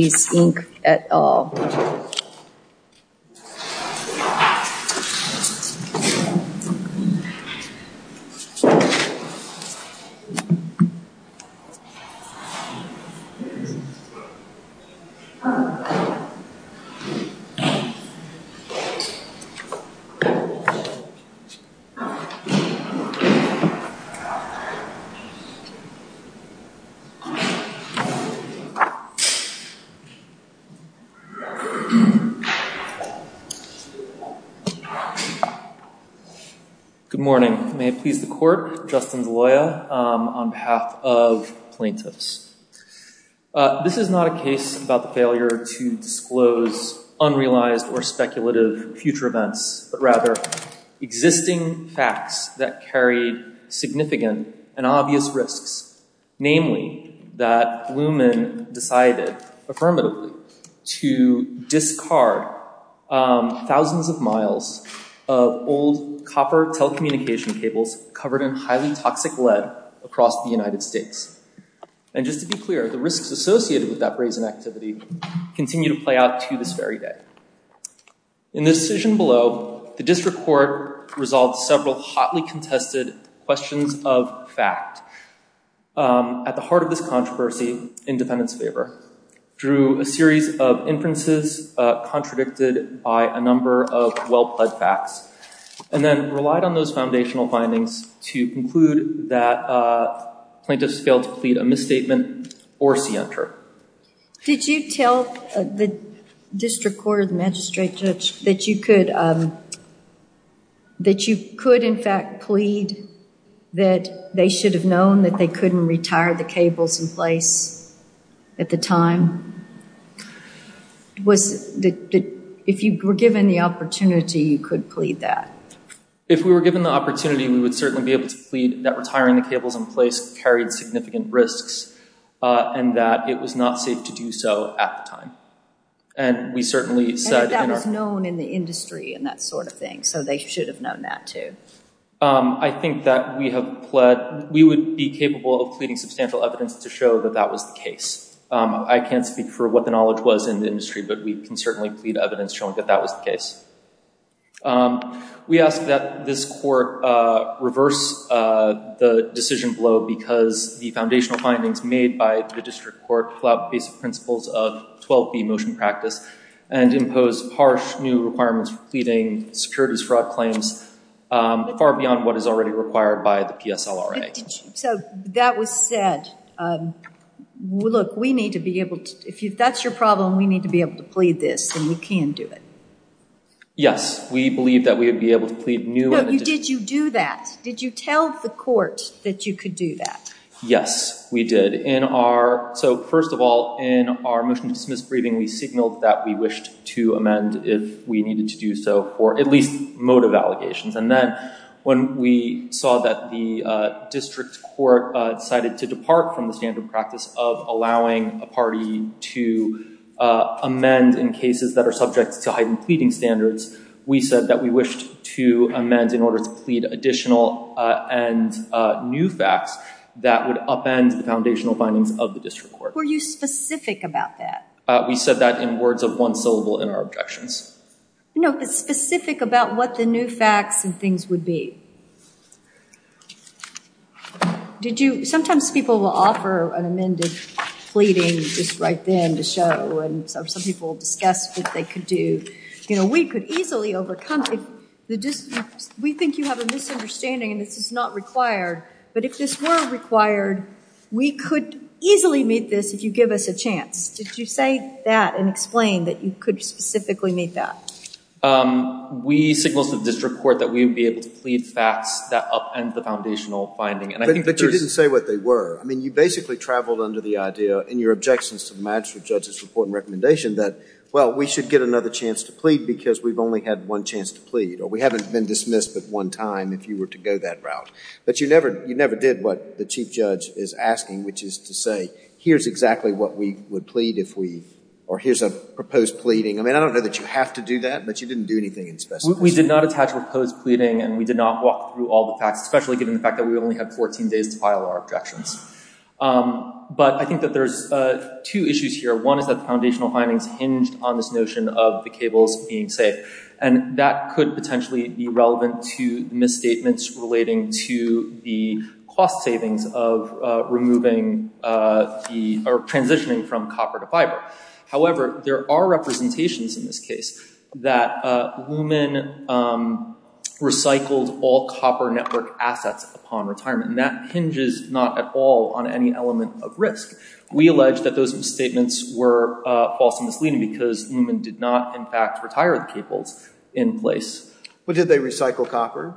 Inc. et al. Good morning. May it please the court, Justin Deloia on behalf of plaintiffs. This is not a case about the failure to disclose unrealized or speculative future events, but rather existing facts that carried significant and obvious risks, namely that Lumen decided, affirming affirmatively, to discard thousands of miles of old copper telecommunication cables covered in highly toxic lead across the United States. And just to be clear, the risks associated with that brazen activity continue to play out to this very day. In this decision below, the district court resolved several hotly contested questions of fact. At the heart of this controversy, in defendant's favor, drew a series of inferences contradicted by a number of well-plugged facts, and then relied on those foundational findings to conclude that plaintiffs failed to plead a misstatement or scienter. Did you tell the district court or the magistrate judge that you could in fact plead that plaintiffs should have known that they couldn't retire the cables in place at the time? If you were given the opportunity, you could plead that? If we were given the opportunity, we would certainly be able to plead that retiring the cables in place carried significant risks, and that it was not safe to do so at the time. And we certainly said in our... And that that was known in the industry and that sort of thing, so they should have known that too. I think that we have pled... We would be capable of pleading substantial evidence to show that that was the case. I can't speak for what the knowledge was in the industry, but we can certainly plead evidence showing that that was the case. We ask that this court reverse the decision below because the foundational findings made by the district court pull out basic principles of 12B motion practice and impose harsh new requirements for pleading securities fraud claims far beyond what is already required by the PSLRA. So that was said. Look, we need to be able to... If that's your problem, we need to be able to plead this, and we can do it. Yes, we believe that we would be able to plead new... No, did you do that? Did you tell the court that you could do that? Yes, we did. So first of all, in our motion to dismiss briefing, we signaled that we wished to amend if we needed to do so for at least motive allegations. And then when we saw that the district court decided to depart from the standard practice of allowing a party to amend in cases that are subject to heightened pleading standards, we said that we wished to amend in order to plead additional and new facts that would upend the foundational findings of the district court. Were you specific about that? We said that in words of one syllable in our objections. No, it's specific about what the new facts and things would be. Sometimes people will offer an amended pleading just right then to show, and some people will discuss what they could do. We could easily overcome... We think you have a misunderstanding and this is not required, but if this were required, we could easily meet this if you give us a chance. Did you say that and explain that you could specifically meet that? We signaled to the district court that we would be able to plead facts that upend the foundational finding. But you didn't say what they were. I mean, you basically traveled under the idea in your objections to the magistrate judge's report and recommendation that, well, we should get another chance to plead because we've only had one chance to plead, or we haven't been dismissed but one time if you were to go that route. But you never did what the chief judge is asking, which is to say, here's exactly what we would plead if we... Or here's a proposed pleading. I mean, I don't know that you have to do that, but you didn't do anything in specific. We did not attach a proposed pleading and we did not walk through all the facts, especially given the fact that we only had 14 days to file our objections. But I think that there's two issues here. One is that the foundational findings hinged on this notion of the cables being safe. And that could potentially be relevant to the misstatements relating to the cost savings of removing the... Or transitioning from copper to fiber. However, there are representations in this case that Luhman recycled all copper network assets upon retirement. And that hinges not at all on any element of risk. We allege that those misstatements were false and misleading because Luhman did not, in fact, retire the cables in place. But did they recycle copper?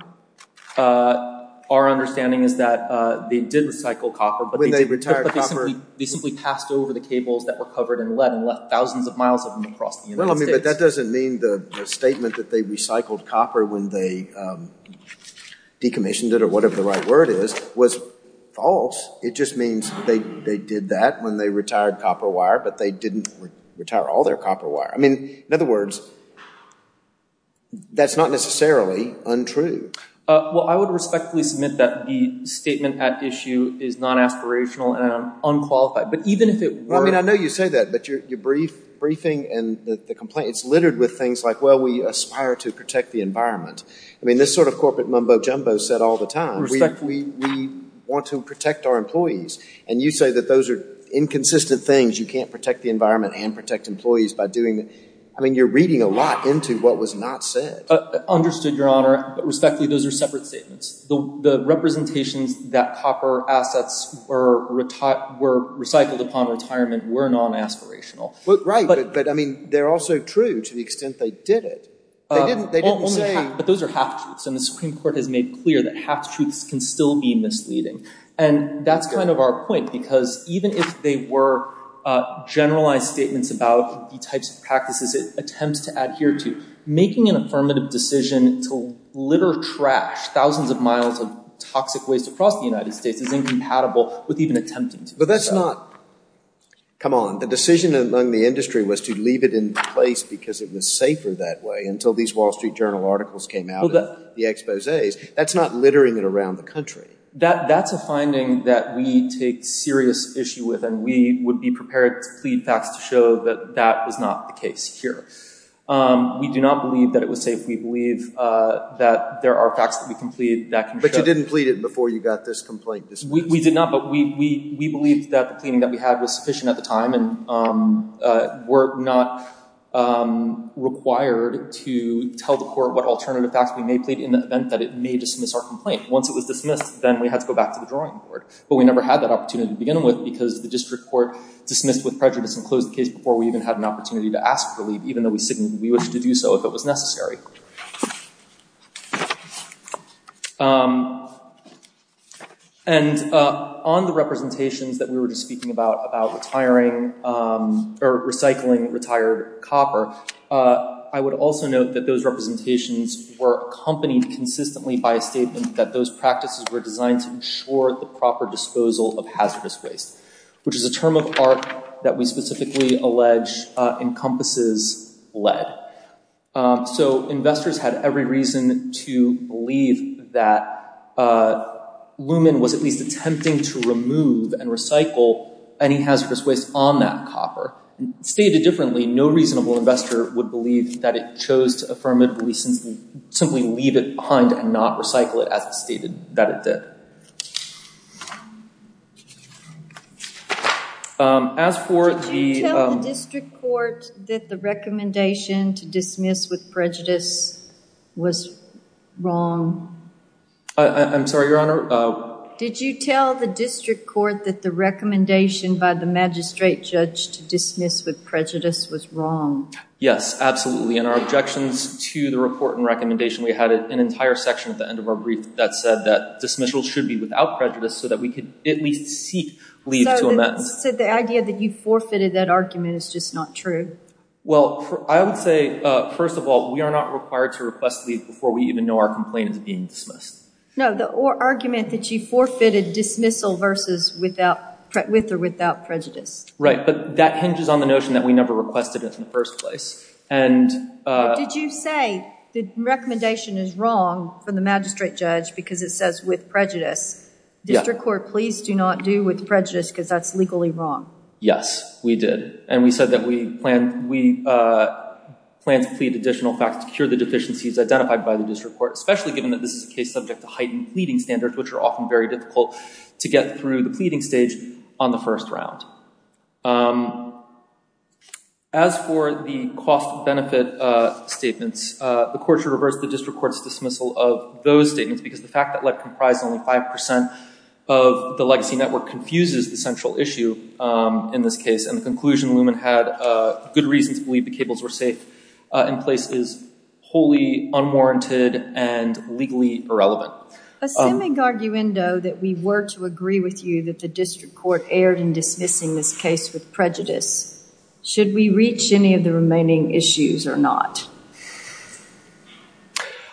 Our understanding is that they did recycle copper, but they simply passed over the cables that were covered in lead and left thousands of miles of them across the United States. But that doesn't mean the statement that they recycled copper when they decommissioned it, or whatever the right word is, was false. It just means they did that when they retired copper wire, but they didn't retire all their copper wire. I mean, in other words, that's not necessarily untrue. Well, I would respectfully submit that the statement at issue is non-aspirational and unqualified. But even if it were... I mean, I know you say that, but your briefing and the complaint, it's littered with things like, well, we aspire to protect the environment. I mean, this sort of corporate mumbo-jumbo is said all the time. We want to protect our employees. And you say that those are inconsistent things. You can't protect the environment and protect employees by doing... I mean, you're reading a lot into what was not said. Understood, Your Honor. Respectfully, those are separate statements. The representations that copper assets were recycled upon retirement were non-aspirational. Right. But I mean, they're also true to the extent they did it. They didn't say... But those are half-truths, and the Supreme Court has made clear that half-truths can still be misleading. And that's kind of our point, because even if they were generalized about the types of practices it attempts to adhere to, making an affirmative decision to litter trash thousands of miles of toxic waste across the United States is incompatible with even attempting to do so. But that's not... Come on. The decision among the industry was to leave it in place because it was safer that way until these Wall Street Journal articles came out and the exposés. That's not littering it around the country. That's a finding that we take serious issue with, and we would be prepared to plead facts that that was not the case here. We do not believe that it was safe. We believe that there are facts that we can plead that can show... But you didn't plead it before you got this complaint dismissed. We did not, but we believed that the pleading that we had was sufficient at the time, and we're not required to tell the court what alternative facts we may plead in the event that it may dismiss our complaint. Once it was dismissed, then we had to go back to the drawing board. But we never had that opportunity to begin with, because the district court dismissed with prejudice and closed the case before we even had an opportunity to ask for leave, even though we wished to do so if it was necessary. And on the representations that we were just speaking about, about retiring or recycling retired copper, I would also note that those representations were accompanied consistently by a statement that those practices were designed to ensure the proper disposal of hazardous waste, which is a term of art that we specifically allege encompasses lead. So investors had every reason to believe that Lumen was at least attempting to remove and recycle any hazardous waste on that copper. Stated differently, no reasonable investor would believe that it chose to affirmatively simply leave it behind and not recycle it as it stated that it did. As for the... Did you tell the district court that the recommendation to dismiss with prejudice was wrong? I'm sorry, Your Honor? Did you tell the district court that the recommendation by the magistrate judge to dismiss with prejudice was wrong? Yes, absolutely. In our objections to the report and recommendation, we had an entire section at that said that dismissal should be without prejudice so that we could at least seek leave to amend. So the idea that you forfeited that argument is just not true? Well, I would say, first of all, we are not required to request leave before we even know our complaint is being dismissed. No, the argument that you forfeited dismissal versus with or without prejudice. Right, but that hinges on the notion that we never requested it in the first place. And... Did you say the recommendation is wrong from the magistrate judge because it says with prejudice? District court, please do not do with prejudice because that's legally wrong. Yes, we did. And we said that we plan to plead additional facts to cure the deficiencies identified by the district court, especially given that this is a case subject to heightened pleading standards, which are often very difficult to get through the pleading stage on the first round. As for the cost benefit statements, the court should reverse the district court's dismissal of those statements because the fact that led comprised only 5% of the legacy network confuses the central issue in this case. And the conclusion Luman had good reasons to believe the cables were safe in place is wholly unwarranted and legally irrelevant. Assuming, arguendo, that we were to agree with you that the district court erred in dismissing this case with prejudice, should we reach any of the remaining issues or not?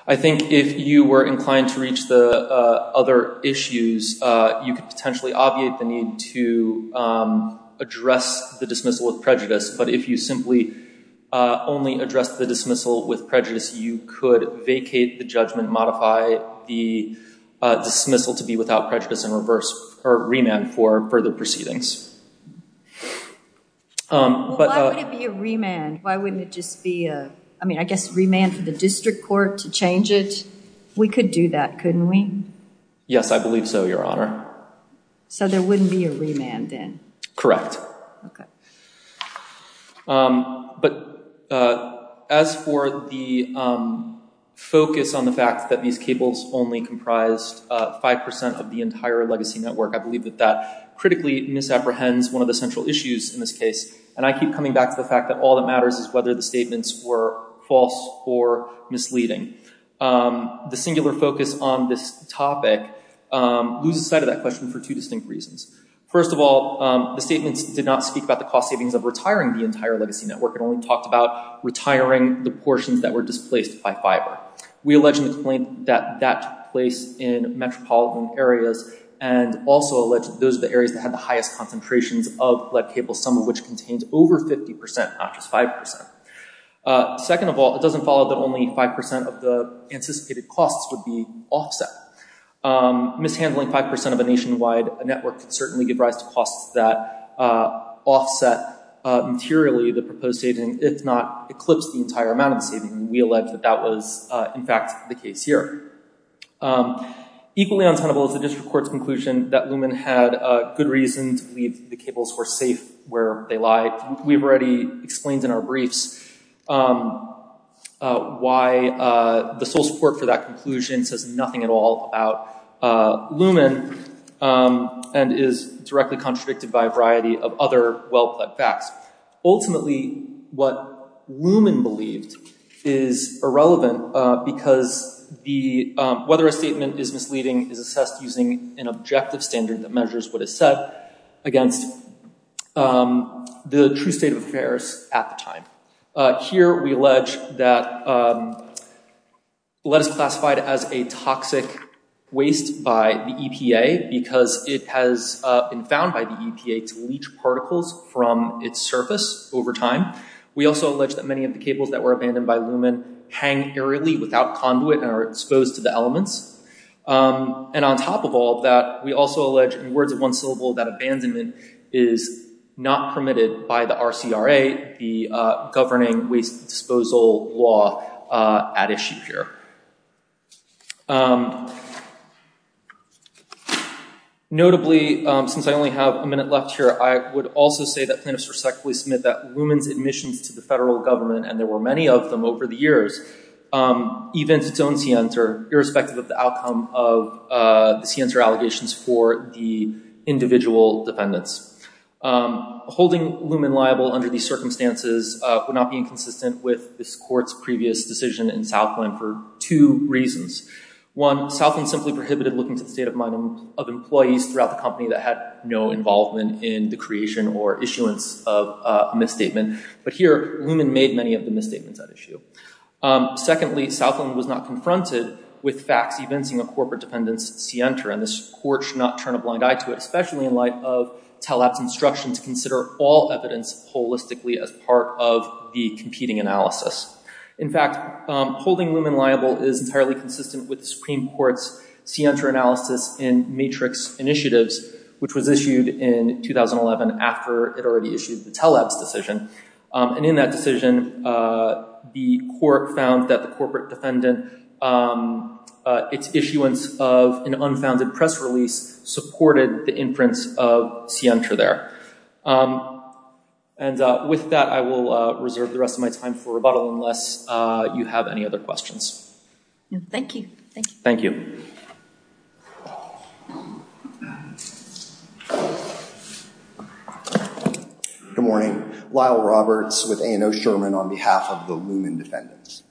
I think if you were inclined to reach the other issues, you could potentially obviate the need to address the dismissal with prejudice. But if you simply only addressed the dismissal with prejudice, you could vacate the judgment, modify the dismissal to be without prejudice and reverse or remand for further proceedings. But why would it be a remand? Why wouldn't it just be a, I mean, I guess, remand for the district court to change it? We could do that, couldn't we? Yes, I believe so, Your Honor. So there wouldn't be a remand then? Correct. Okay. But as for the focus on the fact that these cables only comprised 5% of the entire legacy network, I believe that that critically misapprehends one of the central issues in this case. And I keep coming back to the fact that all that matters is whether the statements were false or misleading. The singular focus on this topic loses sight of that question for two distinct reasons. First of all, the statements did not speak about the cost savings of retiring the entire legacy network. It only talked about retiring the portions that were displaced by fiber. We allegedly explained that that took place in metropolitan areas and also alleged those are the areas that had the highest concentrations of lead cables, some of which contained over 50%, not just 5%. Second of all, it doesn't follow that only 5% of the anticipated costs would be offset. Mishandling 5% of a nationwide network could certainly give rise to costs that offset materially the proposed savings, if not eclipse the entire amount of savings. We allege that that was, in fact, the case here. Equally untenable is the district court's conclusion that Lumen had a good reason to believe the cables were safe where they lied. We've already explained in our briefs why the sole support for that conclusion says nothing at all about Lumen and is directly contradicted by a variety of other well-plaid facts. Ultimately, what Lumen believed is irrelevant because whether a statement is misleading is assessed using an objective standard that measures what is said against the true state of affairs at the time. Here, we allege that lead is classified as a toxic waste by the EPA because it has been found by the EPA to leach particles from its surface over time. We also allege that many of the cables that were abandoned by Lumen hang aerially without conduit and are exposed to the elements. On top of all that, we also allege in words of one syllable that abandonment is not permitted by the RCRA, the Governing Waste Disposal Law at issue here. Notably, since I only have a minute left here, I would also say that plaintiffs respectfully submit that Lumen's admissions to the federal government, and there were many of them over the years, evinced its own scienter irrespective of the outcome of the scienter allegations for the individual defendants. Holding Lumen liable under these circumstances would not be inconsistent with this court's previous decision in Southland for two reasons. One, Southland simply prohibited looking to the state of mind of employees throughout the company that had no involvement in the creation or issuance of a misstatement. But here, Lumen made many of the misstatements at issue. Secondly, Southland was not confronted with facts evincing a corporate defendant's scienter, and this court should not turn a blind eye to it, especially in light of Teleb's instruction to consider all evidence holistically as part of the competing analysis. In fact, holding Lumen liable is entirely consistent with the Supreme Court's scienter analysis in Matrix Initiatives, which was issued in 2011 after it already issued the Teleb's decision. And in that decision, the court found that the corporate defendant, its issuance of an unfounded press release, supported the inference of scienter there. And with that, I will reserve the rest of my time for rebuttal unless you have any other questions. Thank you. Thank you. Good morning. Lyle Roberts with A&O Sherman on behalf of the Lumen defendants.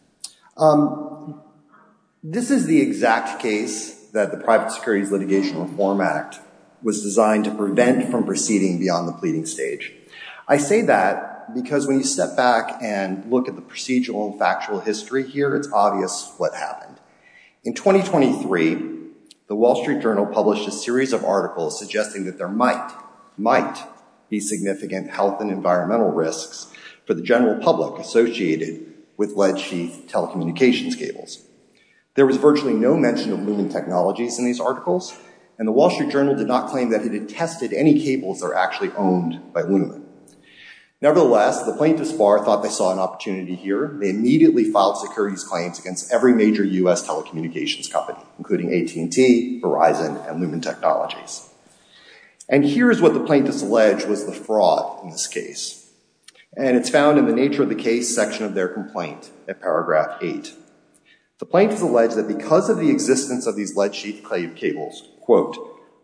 Um, this is the exact case that the Private Securities Litigation Reform Act was designed to prevent from proceeding beyond the pleading stage. I say that because when you step back and look at the procedural and factual history here, it's obvious what happened. In 2023, the Wall Street Journal published a series of articles suggesting that there might, might be significant health and environmental risks for the general public associated with telecommunications cables. There was virtually no mention of Lumen technologies in these articles, and the Wall Street Journal did not claim that it had tested any cables that are actually owned by Lumen. Nevertheless, the plaintiffs bar thought they saw an opportunity here. They immediately filed securities claims against every major U.S. telecommunications company, including AT&T, Verizon, and Lumen Technologies. And here is what the plaintiffs allege was the fraud in this case. And it's found in the nature of the case section of their complaint at paragraph eight. The plaintiffs allege that because of the existence of these lead sheath cables, quote,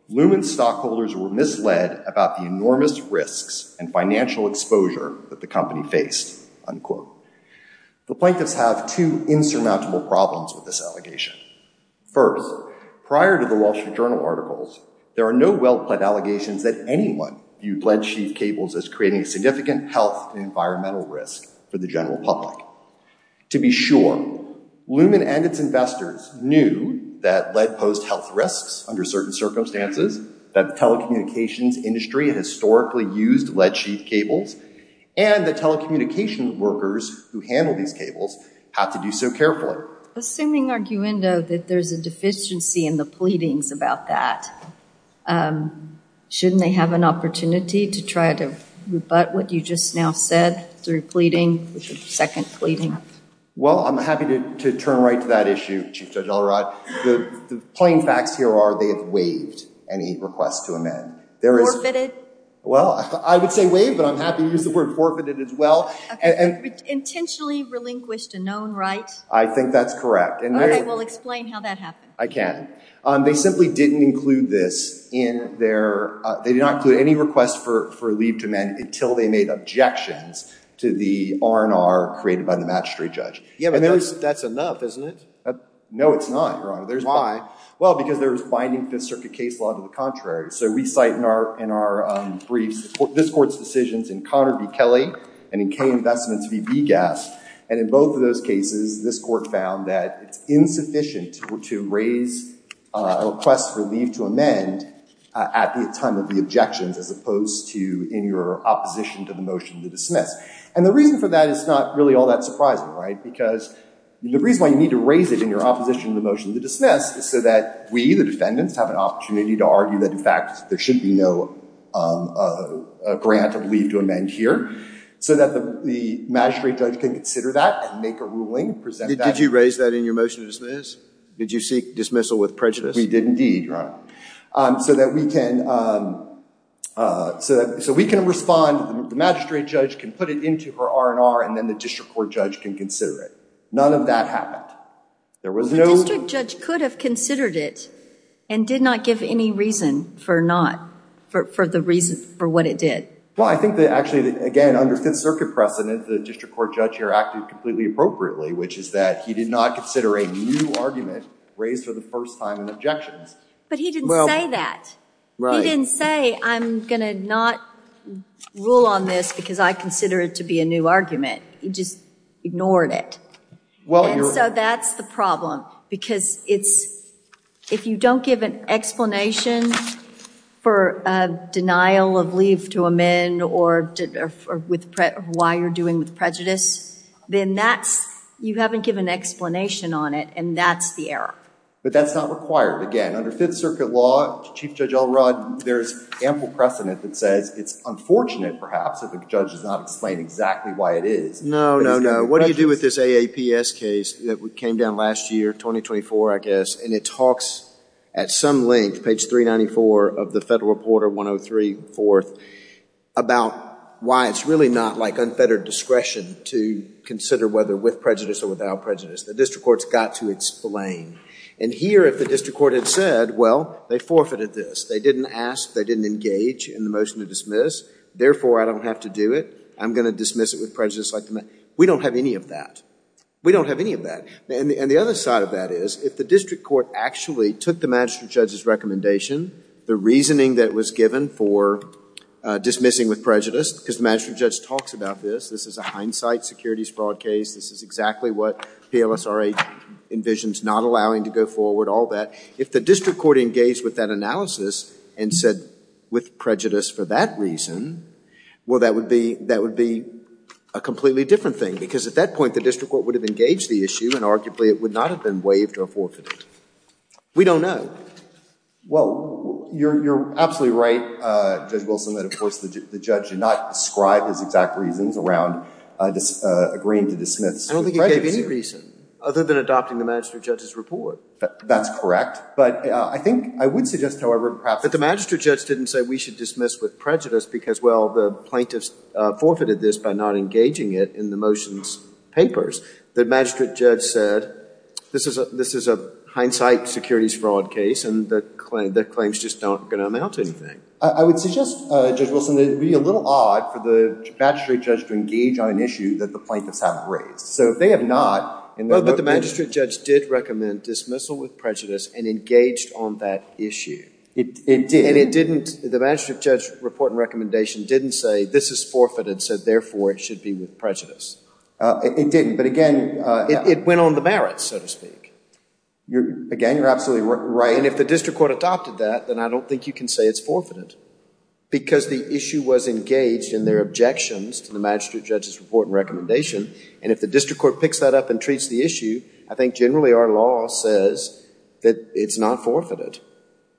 Lumen stockholders were misled about the enormous risks and financial exposure that the company faced, unquote. The plaintiffs have two insurmountable problems with this allegation. First, prior to the Wall Street Journal articles, there are no well-planned allegations that anyone viewed lead sheath cables as creating a significant health and environmental risk for the general public. To be sure, Lumen and its investors knew that lead posed health risks under certain circumstances, that the telecommunications industry historically used lead sheath cables, and that telecommunication workers who handle these cables have to do so carefully. Assuming, Arguendo, that there's a deficiency in the pleadings about that, um, shouldn't they have an opportunity to try to rebut what you just now said through pleading, which is second pleading? Well, I'm happy to turn right to that issue, Chief Judge Allrod. The plain facts here are they have waived any request to amend. There is... Forfeited? Well, I would say waived, but I'm happy to use the word forfeited as well. Intentionally relinquished a known right? I think that's correct. All right, we'll explain how that happened. I can. They simply didn't include this in their... They did not include any request for leave to amend until they made objections to the R&R created by the magistrate judge. Yeah, but that's enough, isn't it? No, it's not, Your Honor. There's... Well, because there was binding Fifth Circuit case law to the contrary. So we cite in our briefs, this court's decisions in Connor v. Kelly and in K Investments v. Gass. And in both of those cases, this court found that it's insufficient to raise a request for leave to amend at the time of the objections as opposed to in your opposition to the motion to dismiss. And the reason for that is not really all that surprising, right? Because the reason why you need to raise it in your opposition to the motion to dismiss is so that we, the defendants, have an opportunity to argue that, in fact, there should be no a grant of leave to amend here. So that the magistrate judge can consider that and make a ruling, present that... Did you raise that in your motion to dismiss? Did you seek dismissal with prejudice? We did indeed, Your Honor. So that we can respond, the magistrate judge can put it into her R&R and then the district court judge can consider it. None of that happened. There was no... And did not give any reason for not, for the reason for what it did. Well, I think that actually, again, under the circuit precedent, the district court judge here acted completely appropriately, which is that he did not consider a new argument raised for the first time in objections. But he didn't say that. He didn't say, I'm going to not rule on this because I consider it to be a new argument. He just ignored it. So that's the problem. Because it's, if you don't give an explanation for a denial of leave to amend or why you're doing with prejudice, then that's, you haven't given an explanation on it and that's the error. But that's not required. Again, under Fifth Circuit law, Chief Judge Elrod, there's ample precedent that says it's unfortunate, perhaps, if a judge does not explain exactly why it is. No, no, no. What do you do with this AAPS case that came down last year, 2024, I guess, and it talks at some length, page 394 of the Federal Reporter 103, fourth, about why it's really not like unfettered discretion to consider whether with prejudice or without prejudice. The district court's got to explain. And here, if the district court had said, well, they forfeited this. They didn't ask. They didn't engage in the motion to dismiss. Therefore, I don't have to do it. I'm going to dismiss it with prejudice. We don't have any of that. We don't have any of that. And the other side of that is, if the district court actually took the magistrate judge's recommendation, the reasoning that was given for dismissing with prejudice, because the magistrate judge talks about this. This is a hindsight securities fraud case. This is exactly what PLSRA envisions not allowing to go forward, all that. If the district court engaged with that analysis and said, with prejudice for that reason, well, that would be a completely different thing. Because at that point, the district court would have engaged the issue. And arguably, it would not have been waived or forfeited. We don't know. Well, you're absolutely right, Judge Wilson, that, of course, the judge did not describe his exact reasons around agreeing to dismiss with prejudice. I don't think he gave any reason, other than adopting the magistrate judge's report. That's correct. But I think I would suggest, however, perhaps that the magistrate judge didn't say we should dismiss with prejudice, because, well, the plaintiffs forfeited this by not engaging it in the motion's papers. The magistrate judge said, this is a hindsight securities fraud case, and the claims just don't amount to anything. I would suggest, Judge Wilson, that it would be a little odd for the magistrate judge to engage on an issue that the plaintiffs haven't raised. So if they have not, and they're looking at it. Well, but the magistrate judge did recommend dismissal with prejudice and engaged on that issue. It did. The magistrate judge's report and recommendation didn't say, this is forfeited, so therefore it should be with prejudice. It didn't. But again, it went on the merits, so to speak. Again, you're absolutely right. And if the district court adopted that, then I don't think you can say it's forfeited, because the issue was engaged in their objections to the magistrate judge's report and recommendation. And if the district court picks that up and treats the issue, I think generally our law says that it's not forfeited.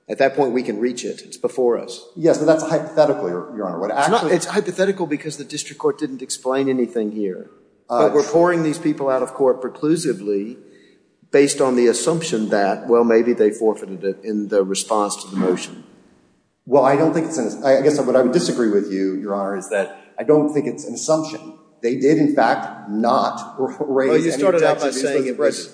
At that point, we can reach it. It's before us. Yes, but that's hypothetical, Your Honor. It's hypothetical because the district court didn't explain anything here. But we're pouring these people out of court preclusively based on the assumption that, well, maybe they forfeited it in the response to the motion. Well, I guess what I would disagree with you, Your Honor, is that I don't think it's an They did, in fact, not raise any objections. Well,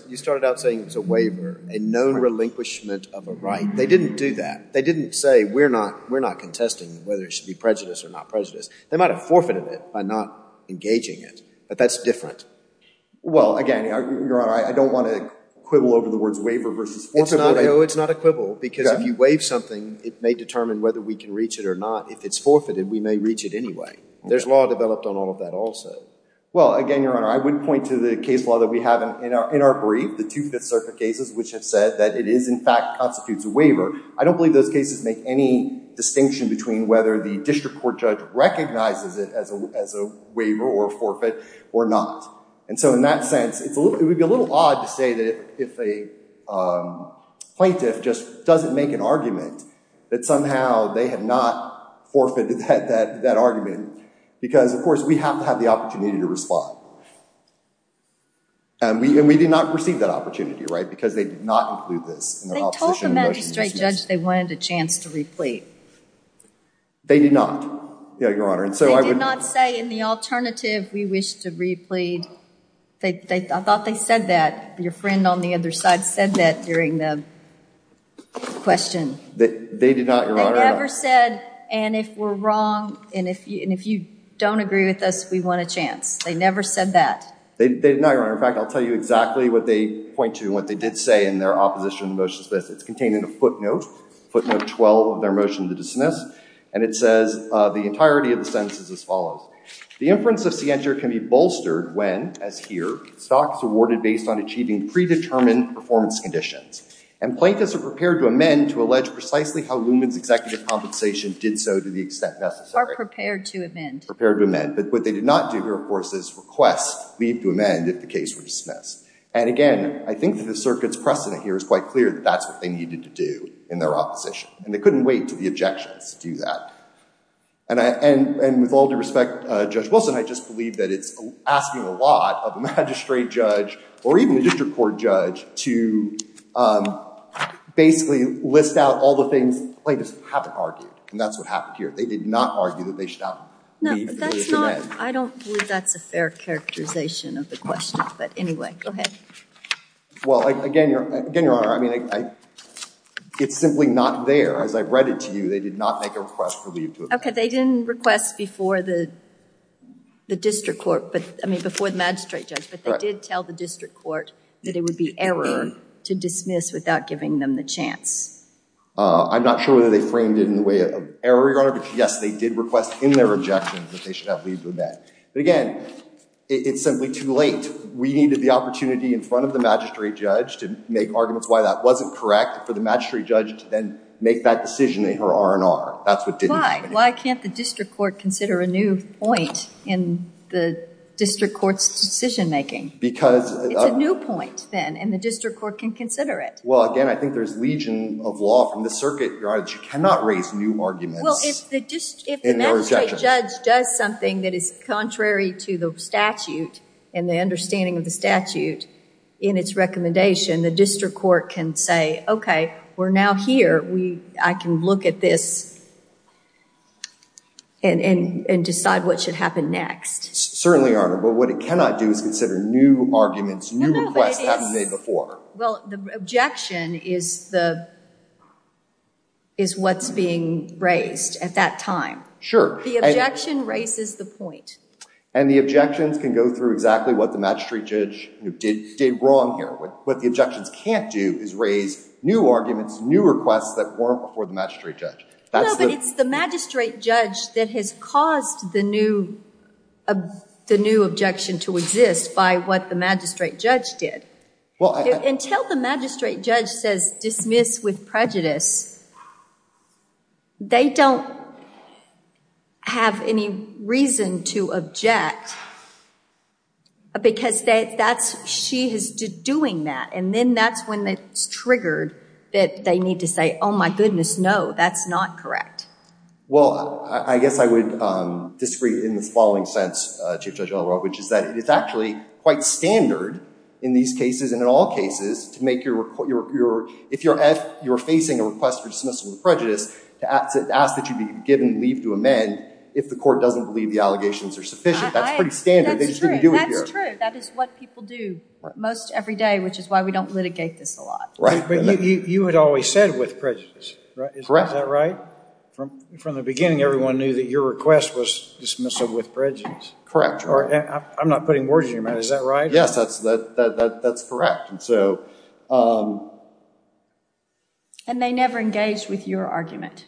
you started out by saying it was a waiver, a known relinquishment of a right. They didn't do that. They didn't say, we're not contesting whether it should be prejudice or not prejudice. They might have forfeited it by not engaging it. But that's different. Well, again, Your Honor, I don't want to quibble over the words waiver versus forfeited. No, it's not a quibble. Because if you waive something, it may determine whether we can reach it or not. If it's forfeited, we may reach it anyway. There's law developed on all of that also. Well, again, Your Honor, I would point to the case law that we have in our brief, the Two Fifth Circuit cases, which have said that it is, in fact, constitutes a waiver. I don't believe those cases make any distinction between whether the district court judge recognizes it as a waiver or a forfeit or not. And so in that sense, it would be a little odd to say that if a plaintiff just doesn't make an argument, that somehow they have not forfeited that argument. Because, of course, we have to have the opportunity to respond. And we did not receive that opportunity, right? Because they did not include this. They told the magistrate judge they wanted a chance to replete. They did not, Your Honor. They did not say in the alternative, we wish to replete. I thought they said that. Your friend on the other side said that during the question. They did not, Your Honor. They never said, and if we're wrong, and if you don't agree with us, we want a chance. They never said that. They did not, Your Honor. In fact, I'll tell you exactly what they point to and what they did say in their opposition motion. It's contained in a footnote, footnote 12 of their motion to dismiss. And it says, the entirety of the sentence is as follows. The inference of scientia can be bolstered when, as here, stock is awarded based on achieving predetermined performance conditions. And plaintiffs are prepared to amend to allege precisely how Luman's executive compensation did so to the extent necessary. Are prepared to amend. Prepared to amend. But what they did not do here, of course, is request leave to amend if the case were dismissed. And again, I think that the circuit's precedent here is quite clear that that's what they needed to do in their opposition. And they couldn't wait to the objections to do that. And with all due respect, Judge Wilson, I just believe that it's asking a lot of a magistrate judge, or even a district court judge, to basically list out all the things plaintiffs haven't argued. And that's what happened here. They did not argue that they should not leave. No, that's not. I don't believe that's a fair characterization of the question. But anyway, go ahead. Well, again, Your Honor, I mean, it's simply not there. As I've read it to you, they did not make a request for leave to amend. OK, they didn't request before the district court. But I mean, before the magistrate judge. But they did tell the district court that it would be error to dismiss without giving them the chance. I'm not sure whether they framed it in the way of error, Your Honor. But yes, they did request in their objections that they should not leave to amend. But again, it's simply too late. We needed the opportunity in front of the magistrate judge to make arguments why that wasn't correct for the magistrate judge to then make that decision in her R&R. That's what didn't happen. Why can't the district court consider a new point in the district court's decision making? It's a new point, then. And the district court can consider it. Well, again, I think there's legion of law from the circuit, Your Honor, that you cannot raise new arguments in your objection. Well, if the magistrate judge does something that is contrary to the statute and the understanding of the statute in its recommendation, the district court can say, OK, we're now here. I can look at this and decide what should happen next. Certainly, Your Honor. But what it cannot do is consider new arguments, new requests haven't been made before. Well, the objection is what's being raised at that time. Sure. The objection raises the point. And the objections can go through exactly what the magistrate judge did wrong here. What the objections can't do is raise new arguments, new requests that weren't before the magistrate judge. No, but it's the magistrate judge that has caused the new objection to exist by what the magistrate judge did. Until the magistrate judge says dismiss with prejudice, they don't have any reason to object, because she is doing that. And then that's when it's triggered that they need to say, oh, my goodness, no, that's not correct. Well, I guess I would disagree in the following sense, Chief Judge Ellirock, which is that it's actually quite standard in these cases and in all cases to make your, if you're facing a request for dismissal with prejudice, to ask that you be given leave to amend if the court doesn't believe the allegations are sufficient. That's pretty standard. They just didn't do it here. That's true. That is what people do most every day, which is why we don't litigate this a lot. Right. But you had always said with prejudice, right? Correct. Is that right? From the beginning, everyone knew that your request was dismissal with prejudice. Correct. Or I'm not putting words in your mouth. Is that right? Yes, that's correct. And so. And they never engaged with your argument.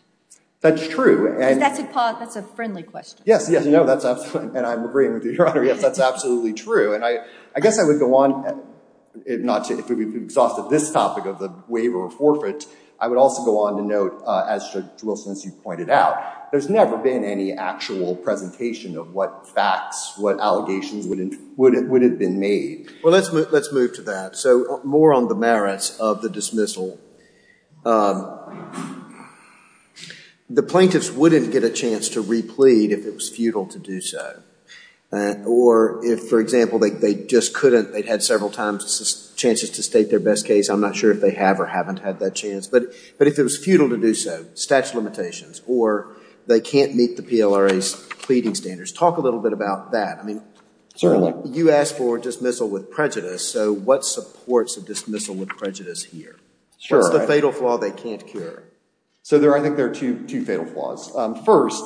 That's true. That's a friendly question. Yes, yes. No, that's absolutely. And I'm agreeing with you, Your Honor. Yes, that's absolutely true. And I guess I would go on, not to exhaust this topic of the waiver of forfeit. I would also go on to note, as Judge Wilson, as you pointed out, there's never been any actual presentation of what facts, what allegations would have been made. Well, let's move to that. So more on the merits of the dismissal. The plaintiffs wouldn't get a chance to replead if it was futile to do so. Or if, for example, they just couldn't. They'd had several times chances to state their best case. I'm not sure if they have or haven't had that chance. But if it was futile to do so, statute of limitations, or they can't meet the PLRA's pleading standards. Talk a little bit about that. I mean, you asked for a dismissal with prejudice. So what supports a dismissal with prejudice here? What's the fatal flaw they can't cure? So I think there are two fatal flaws. First,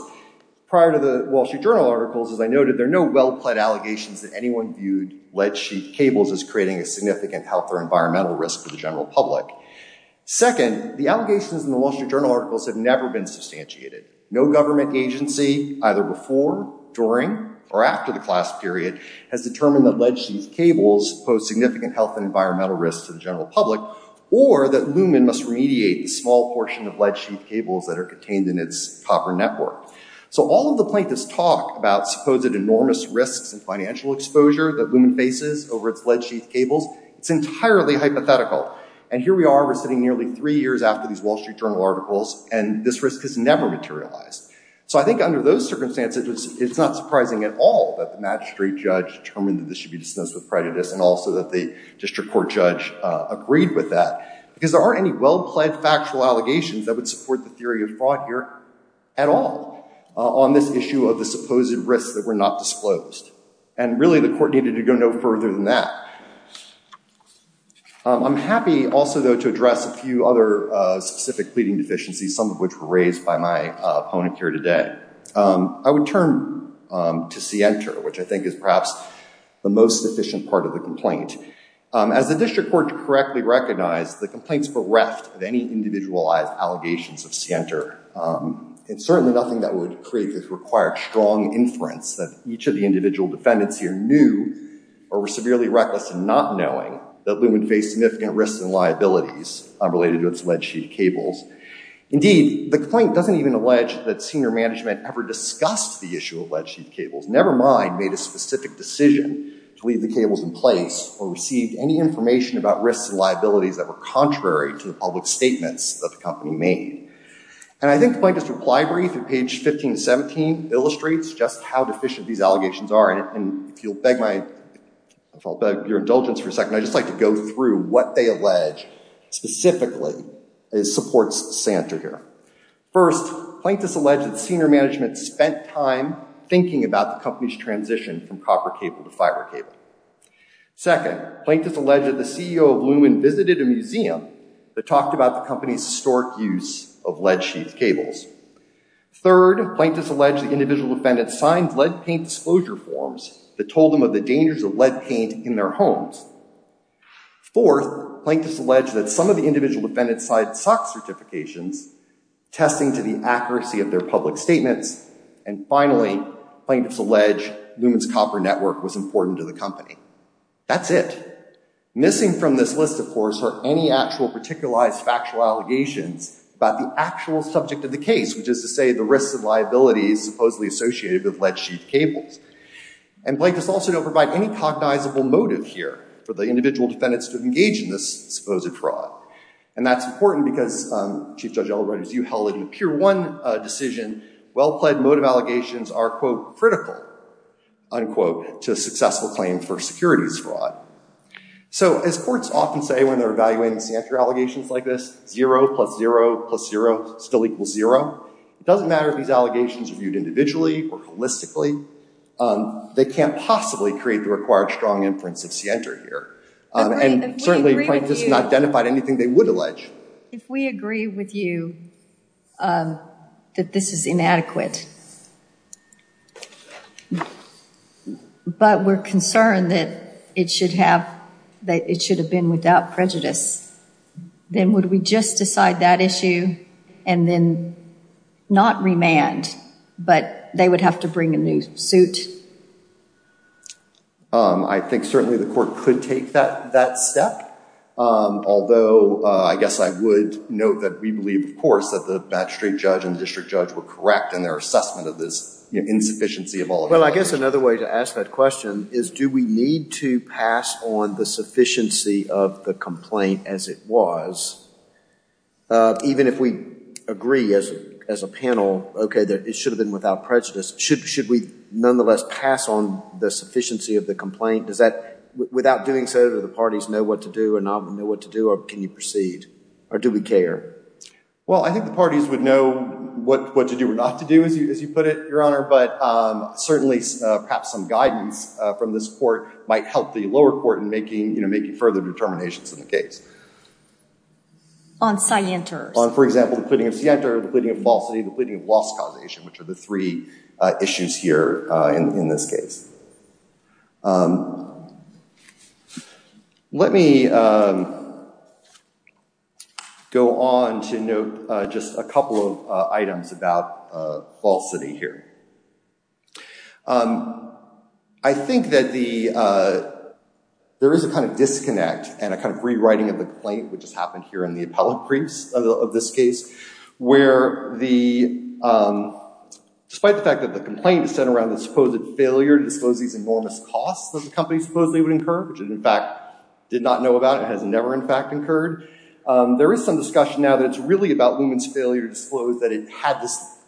prior to the Wall Street Journal articles, as I noted, there are no well-pled allegations that anyone viewed lead-sheet cables as creating a significant health or environmental risk for the general public. Second, the allegations in the Wall Street Journal articles have never been substantiated. No government agency, either before, during, or after the class period, has determined that lead-sheet cables pose significant health and environmental risks to the general public. Or that Lumen must remediate the small portion of lead-sheet cables that are contained in its copper network. So all of the plaintiffs' talk about supposed enormous risks and financial exposure that Lumen faces over its lead-sheet cables, it's entirely hypothetical. And here we are, we're sitting nearly three years after these Wall Street Journal articles, and this risk has never materialized. So I think under those circumstances, it's not surprising at all that the magistrate judge determined that this should be dismissed with prejudice. And also that the district court judge agreed with that. Because there aren't any well-pled factual allegations that would support the theory of fraud here at all on this issue of the supposed risks that were not disclosed. And really, the court needed to go no further than that. I'm happy also, though, to address a few other specific pleading deficiencies, some of which were raised by my opponent here today. I would turn to Sienter, which I think is perhaps the most efficient part of the complaint. As the district court correctly recognized, the complaints bereft of any individualized allegations of Sienter. It's certainly nothing that would create this required strong inference that each of the individual defendants here knew or were severely reckless in not knowing that Lumen faced significant risks and liabilities related to its lead-sheet cables. Indeed, the complaint doesn't even allege that Sienter management ever discussed the issue of lead-sheet cables, never mind made a specific decision to leave the cables in place or received any information about risks and liabilities that were contrary to the public statements that the company made. And I think the plaintiff's reply brief at page 15-17 illustrates just how deficient these allegations are. And if you'll beg my indulgence for a second, I'd just like to go through what they allege specifically as supports Sienter here. First, plaintiffs allege that Sienter management spent time thinking about the company's transition from copper cable to fiber cable. Second, plaintiffs allege that the CEO of Lumen visited a museum that talked about the company's historic use of lead-sheet cables. Third, plaintiffs allege the individual defendant signed lead paint disclosure forms that told them of the dangers of lead paint in their homes. Fourth, plaintiffs allege that some of the individual defendants signed SOX certifications, testing to the accuracy of their public statements. And finally, plaintiffs allege Lumen's copper network was important to the company. That's it. Missing from this list, of course, are any actual particularized factual allegations about the actual subject of the case, which is to say the risks and liabilities supposedly associated with lead-sheet cables. And plaintiffs also don't provide any cognizable motive here. For the individual defendants to engage in this supposed fraud. And that's important because, Chief Judge Elroy, as you held it in Pier 1 decision, well-plaid motive allegations are, quote, critical, unquote, to a successful claim for securities fraud. So as courts often say when they're evaluating Sienter allegations like this, zero plus zero plus zero still equals zero. It doesn't matter if these allegations are viewed individually or holistically. They can't possibly create the required strong inference of Sienter here. And certainly plaintiffs have not identified anything they would allege. If we agree with you that this is inadequate, but we're concerned that it should have been without prejudice, then would we just decide that issue and then not remand, but they would have to bring a new suit? Um, I think certainly the court could take that step. Although I guess I would note that we believe, of course, that the bachelorate judge and the district judge were correct in their assessment of this insufficiency of all of Well, I guess another way to ask that question is, do we need to pass on the sufficiency of the complaint as it was? Uh, even if we agree as a panel, okay, that it should have been without prejudice, should we nonetheless pass on the sufficiency of the complaint? Does that, without doing so, do the parties know what to do or not know what to do? Or can you proceed? Or do we care? Well, I think the parties would know what to do or not to do, as you put it, Your Honor. But certainly perhaps some guidance from this court might help the lower court in making, you know, making further determinations in the case. On scienters? On, for example, the pleading of scienter, the pleading of falsity, the pleading of loss causation, which are the three issues here in this case. Let me go on to note just a couple of items about falsity here. I think that there is a kind of disconnect and a kind of rewriting of the complaint, which has happened here in the appellate briefs of this case, where the, despite the fact that the complaint is set around the supposed failure to disclose these enormous costs that the company supposedly would incur, which it in fact did not know about, it has never in fact incurred, there is some discussion now that it's really about Luman's failure to disclose that it had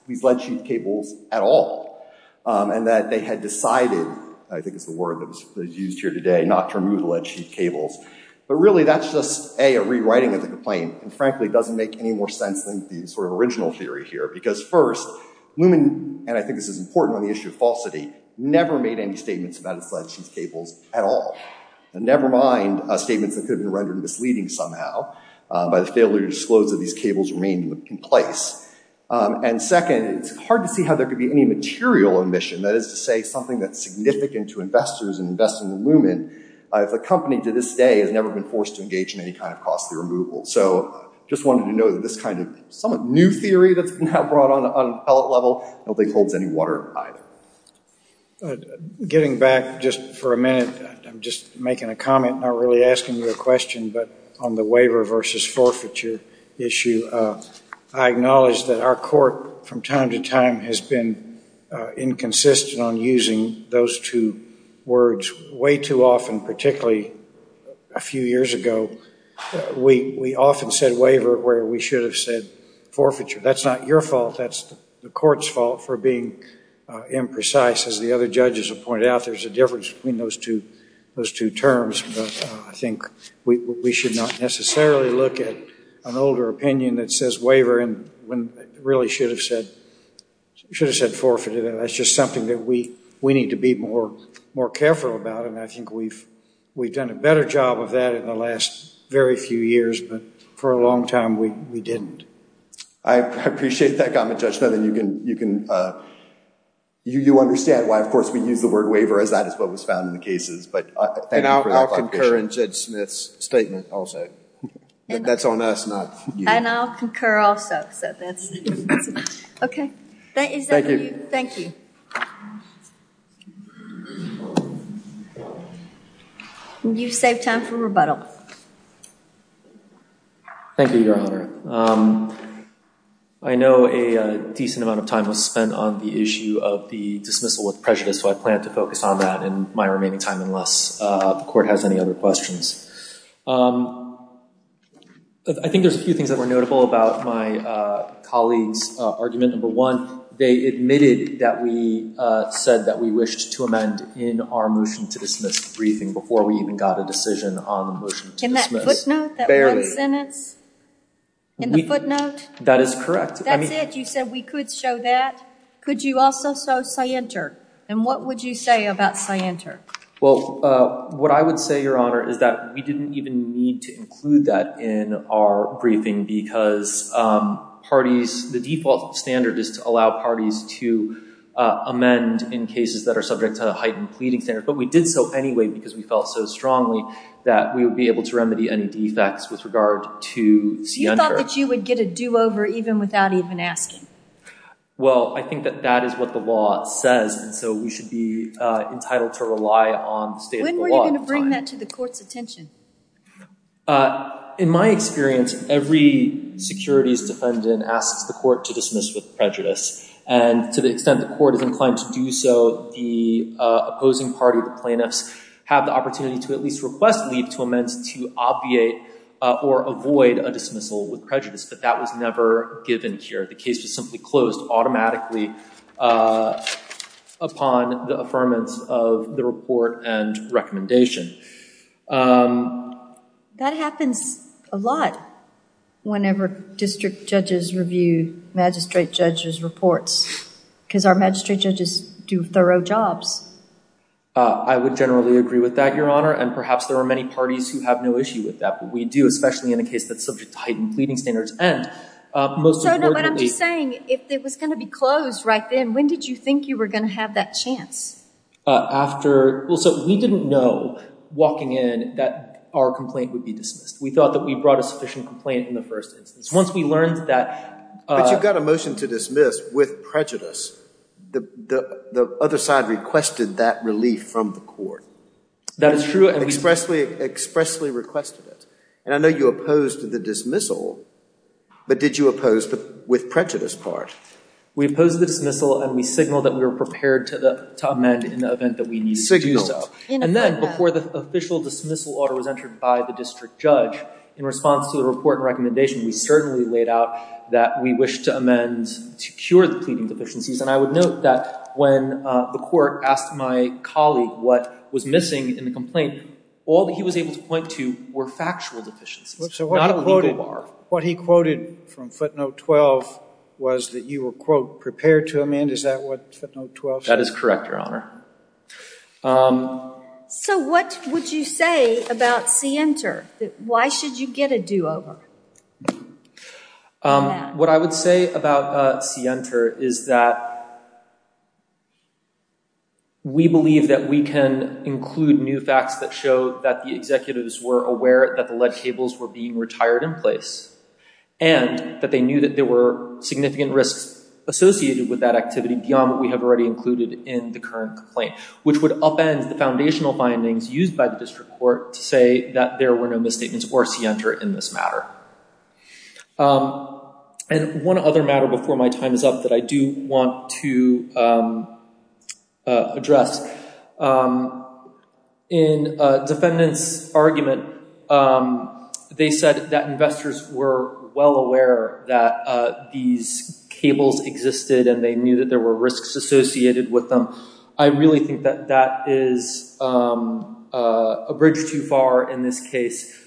these lead sheet cables at all, and that they had decided, I think is the word that was used here today, not to remove the lead sheet cables. But really that's just, A, a rewriting of the complaint, and frankly doesn't make any more sense than the sort of original theory here, because first, Luman, and I think this is important on the issue of falsity, never made any statements about its lead sheet cables at all, never mind statements that could have been rendered misleading somehow by the failure to disclose that these cables remained in place. And second, it's hard to see how there could be any material omission, that is to say something that's significant to investors in investing in Luman, if a company to this day has never been forced to engage in any kind of costly removal. So just wanted to note that this kind of somewhat new theory that's now brought on an appellate level, I don't think holds any water either. Getting back just for a minute, I'm just making a comment, not really asking you a question, but on the waiver versus forfeiture issue, I acknowledge that our court from time to time has been inconsistent on using those two words way too often, particularly a few years ago. We often said waiver where we should have said forfeiture. That's not your fault. That's the court's fault for being imprecise, as the other judges have pointed out. There's a difference between those two terms, but I think we should not necessarily look at an older opinion that says waiver when we really should have said forfeiture. That's just something that we need to be more careful about. And I think we've done a better job of that in the last very few years, but for a long time we didn't. I appreciate that comment, Judge. Now then, you understand why, of course, we use the word waiver as that is what was found in the cases. But thank you for that foundation. And I'll concur in Judge Smith's statement also. That's on us, not you. And I'll concur also. OK, is that for you? You've saved time for rebuttal. Thank you, Your Honor. I know a decent amount of time was spent on the issue of the dismissal with prejudice, so I plan to focus on that in my remaining time unless the court has any other questions. I think there's a few things that were notable about my colleague's argument. Number one, they admitted that we said that we wished to amend in our motion to dismiss briefing before we even got a decision on the motion to dismiss. In that footnote, that one sentence? In the footnote? That is correct. That's it? You said we could show that? Could you also show scienter? And what would you say about scienter? Well, what I would say, Your Honor, is that we didn't even need to include that in our briefing because the default standard is to allow parties to amend in cases that are subject to heightened pleading standards. But we did so anyway because we felt so strongly that we would be able to remedy any defects with regard to scienter. You thought that you would get a do-over even without even asking? Well, I think that that is what the law says. And so we should be entitled to rely on the state of the law. When were you going to bring that to the court's attention? In my experience, every securities defendant asks the court to dismiss with prejudice. And to the extent the court is inclined to do so, the opposing party, the plaintiffs, have the opportunity to at least request leave to amend to obviate or avoid a dismissal with But that was never given here. The case was simply closed automatically upon the affirmance of the report and recommendation. That happens a lot whenever district judges review magistrate judges' reports. Because our magistrate judges do thorough jobs. I would generally agree with that, Your Honor. And perhaps there are many parties who have no issue with that. But we do, especially in a case that's subject to heightened pleading standards. So no, but I'm just saying, if it was going to be closed right then, when did you think you were going to have that chance? We didn't know, walking in, that our complaint would be dismissed. We thought that we brought a sufficient complaint in the first instance. Once we learned that— But you got a motion to dismiss with prejudice. The other side requested that relief from the court. That is true. And expressly requested it. And I know you opposed the dismissal. But did you oppose with prejudice part? We opposed the dismissal and we signaled that we were prepared to amend in the event that we needed to do so. And then, before the official dismissal order was entered by the district judge, in response to the report and recommendation, we certainly laid out that we wish to amend to cure the pleading deficiencies. And I would note that when the court asked my colleague what was missing in the complaint, all that he was able to point to were factual deficiencies, not a legal bar. What he quoted from footnote 12 was that you were, quote, prepared to amend. Is that what footnote 12 says? That is correct, Your Honor. So, what would you say about Sienter? Why should you get a do-over? What I would say about Sienter is that we believe that we can include new facts that show that the executives were aware that the lead cables were being retired in place. And that they knew that there were significant risks associated with that activity beyond what we have already included in the current complaint. Which would upend the foundational findings used by the district court to say that there were no misstatements or Sienter in this matter. And one other matter before my time is up that I do want to address. In a defendant's argument, they said that investors were well aware that these cables existed and they knew that there were risks associated with them. I really think that that is a bridge too far in this case.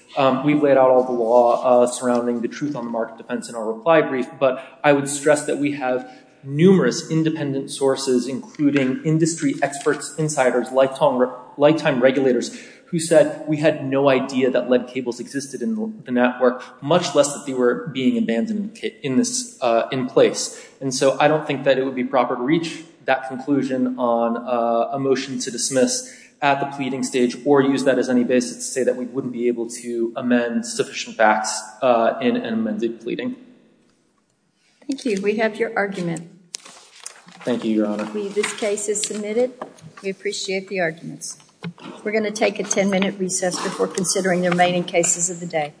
We've laid out all the law surrounding the truth on the market defense in our reply brief. But I would stress that we have numerous cases where we've laid out all the law surrounding Sienter's independent sources including industry experts, insiders, lifetime regulators who said we had no idea that lead cables existed in the network. Much less that they were being abandoned in place. And so I don't think that it would be proper to reach that conclusion on a motion to dismiss at the pleading stage or use that as any basis to say that we wouldn't be able to amend sufficient facts in an amended pleading. Thank you. We have your argument. Thank you, Your Honor. This case is submitted. We appreciate the arguments. We're going to take a 10-minute recess before considering the remaining cases of the day.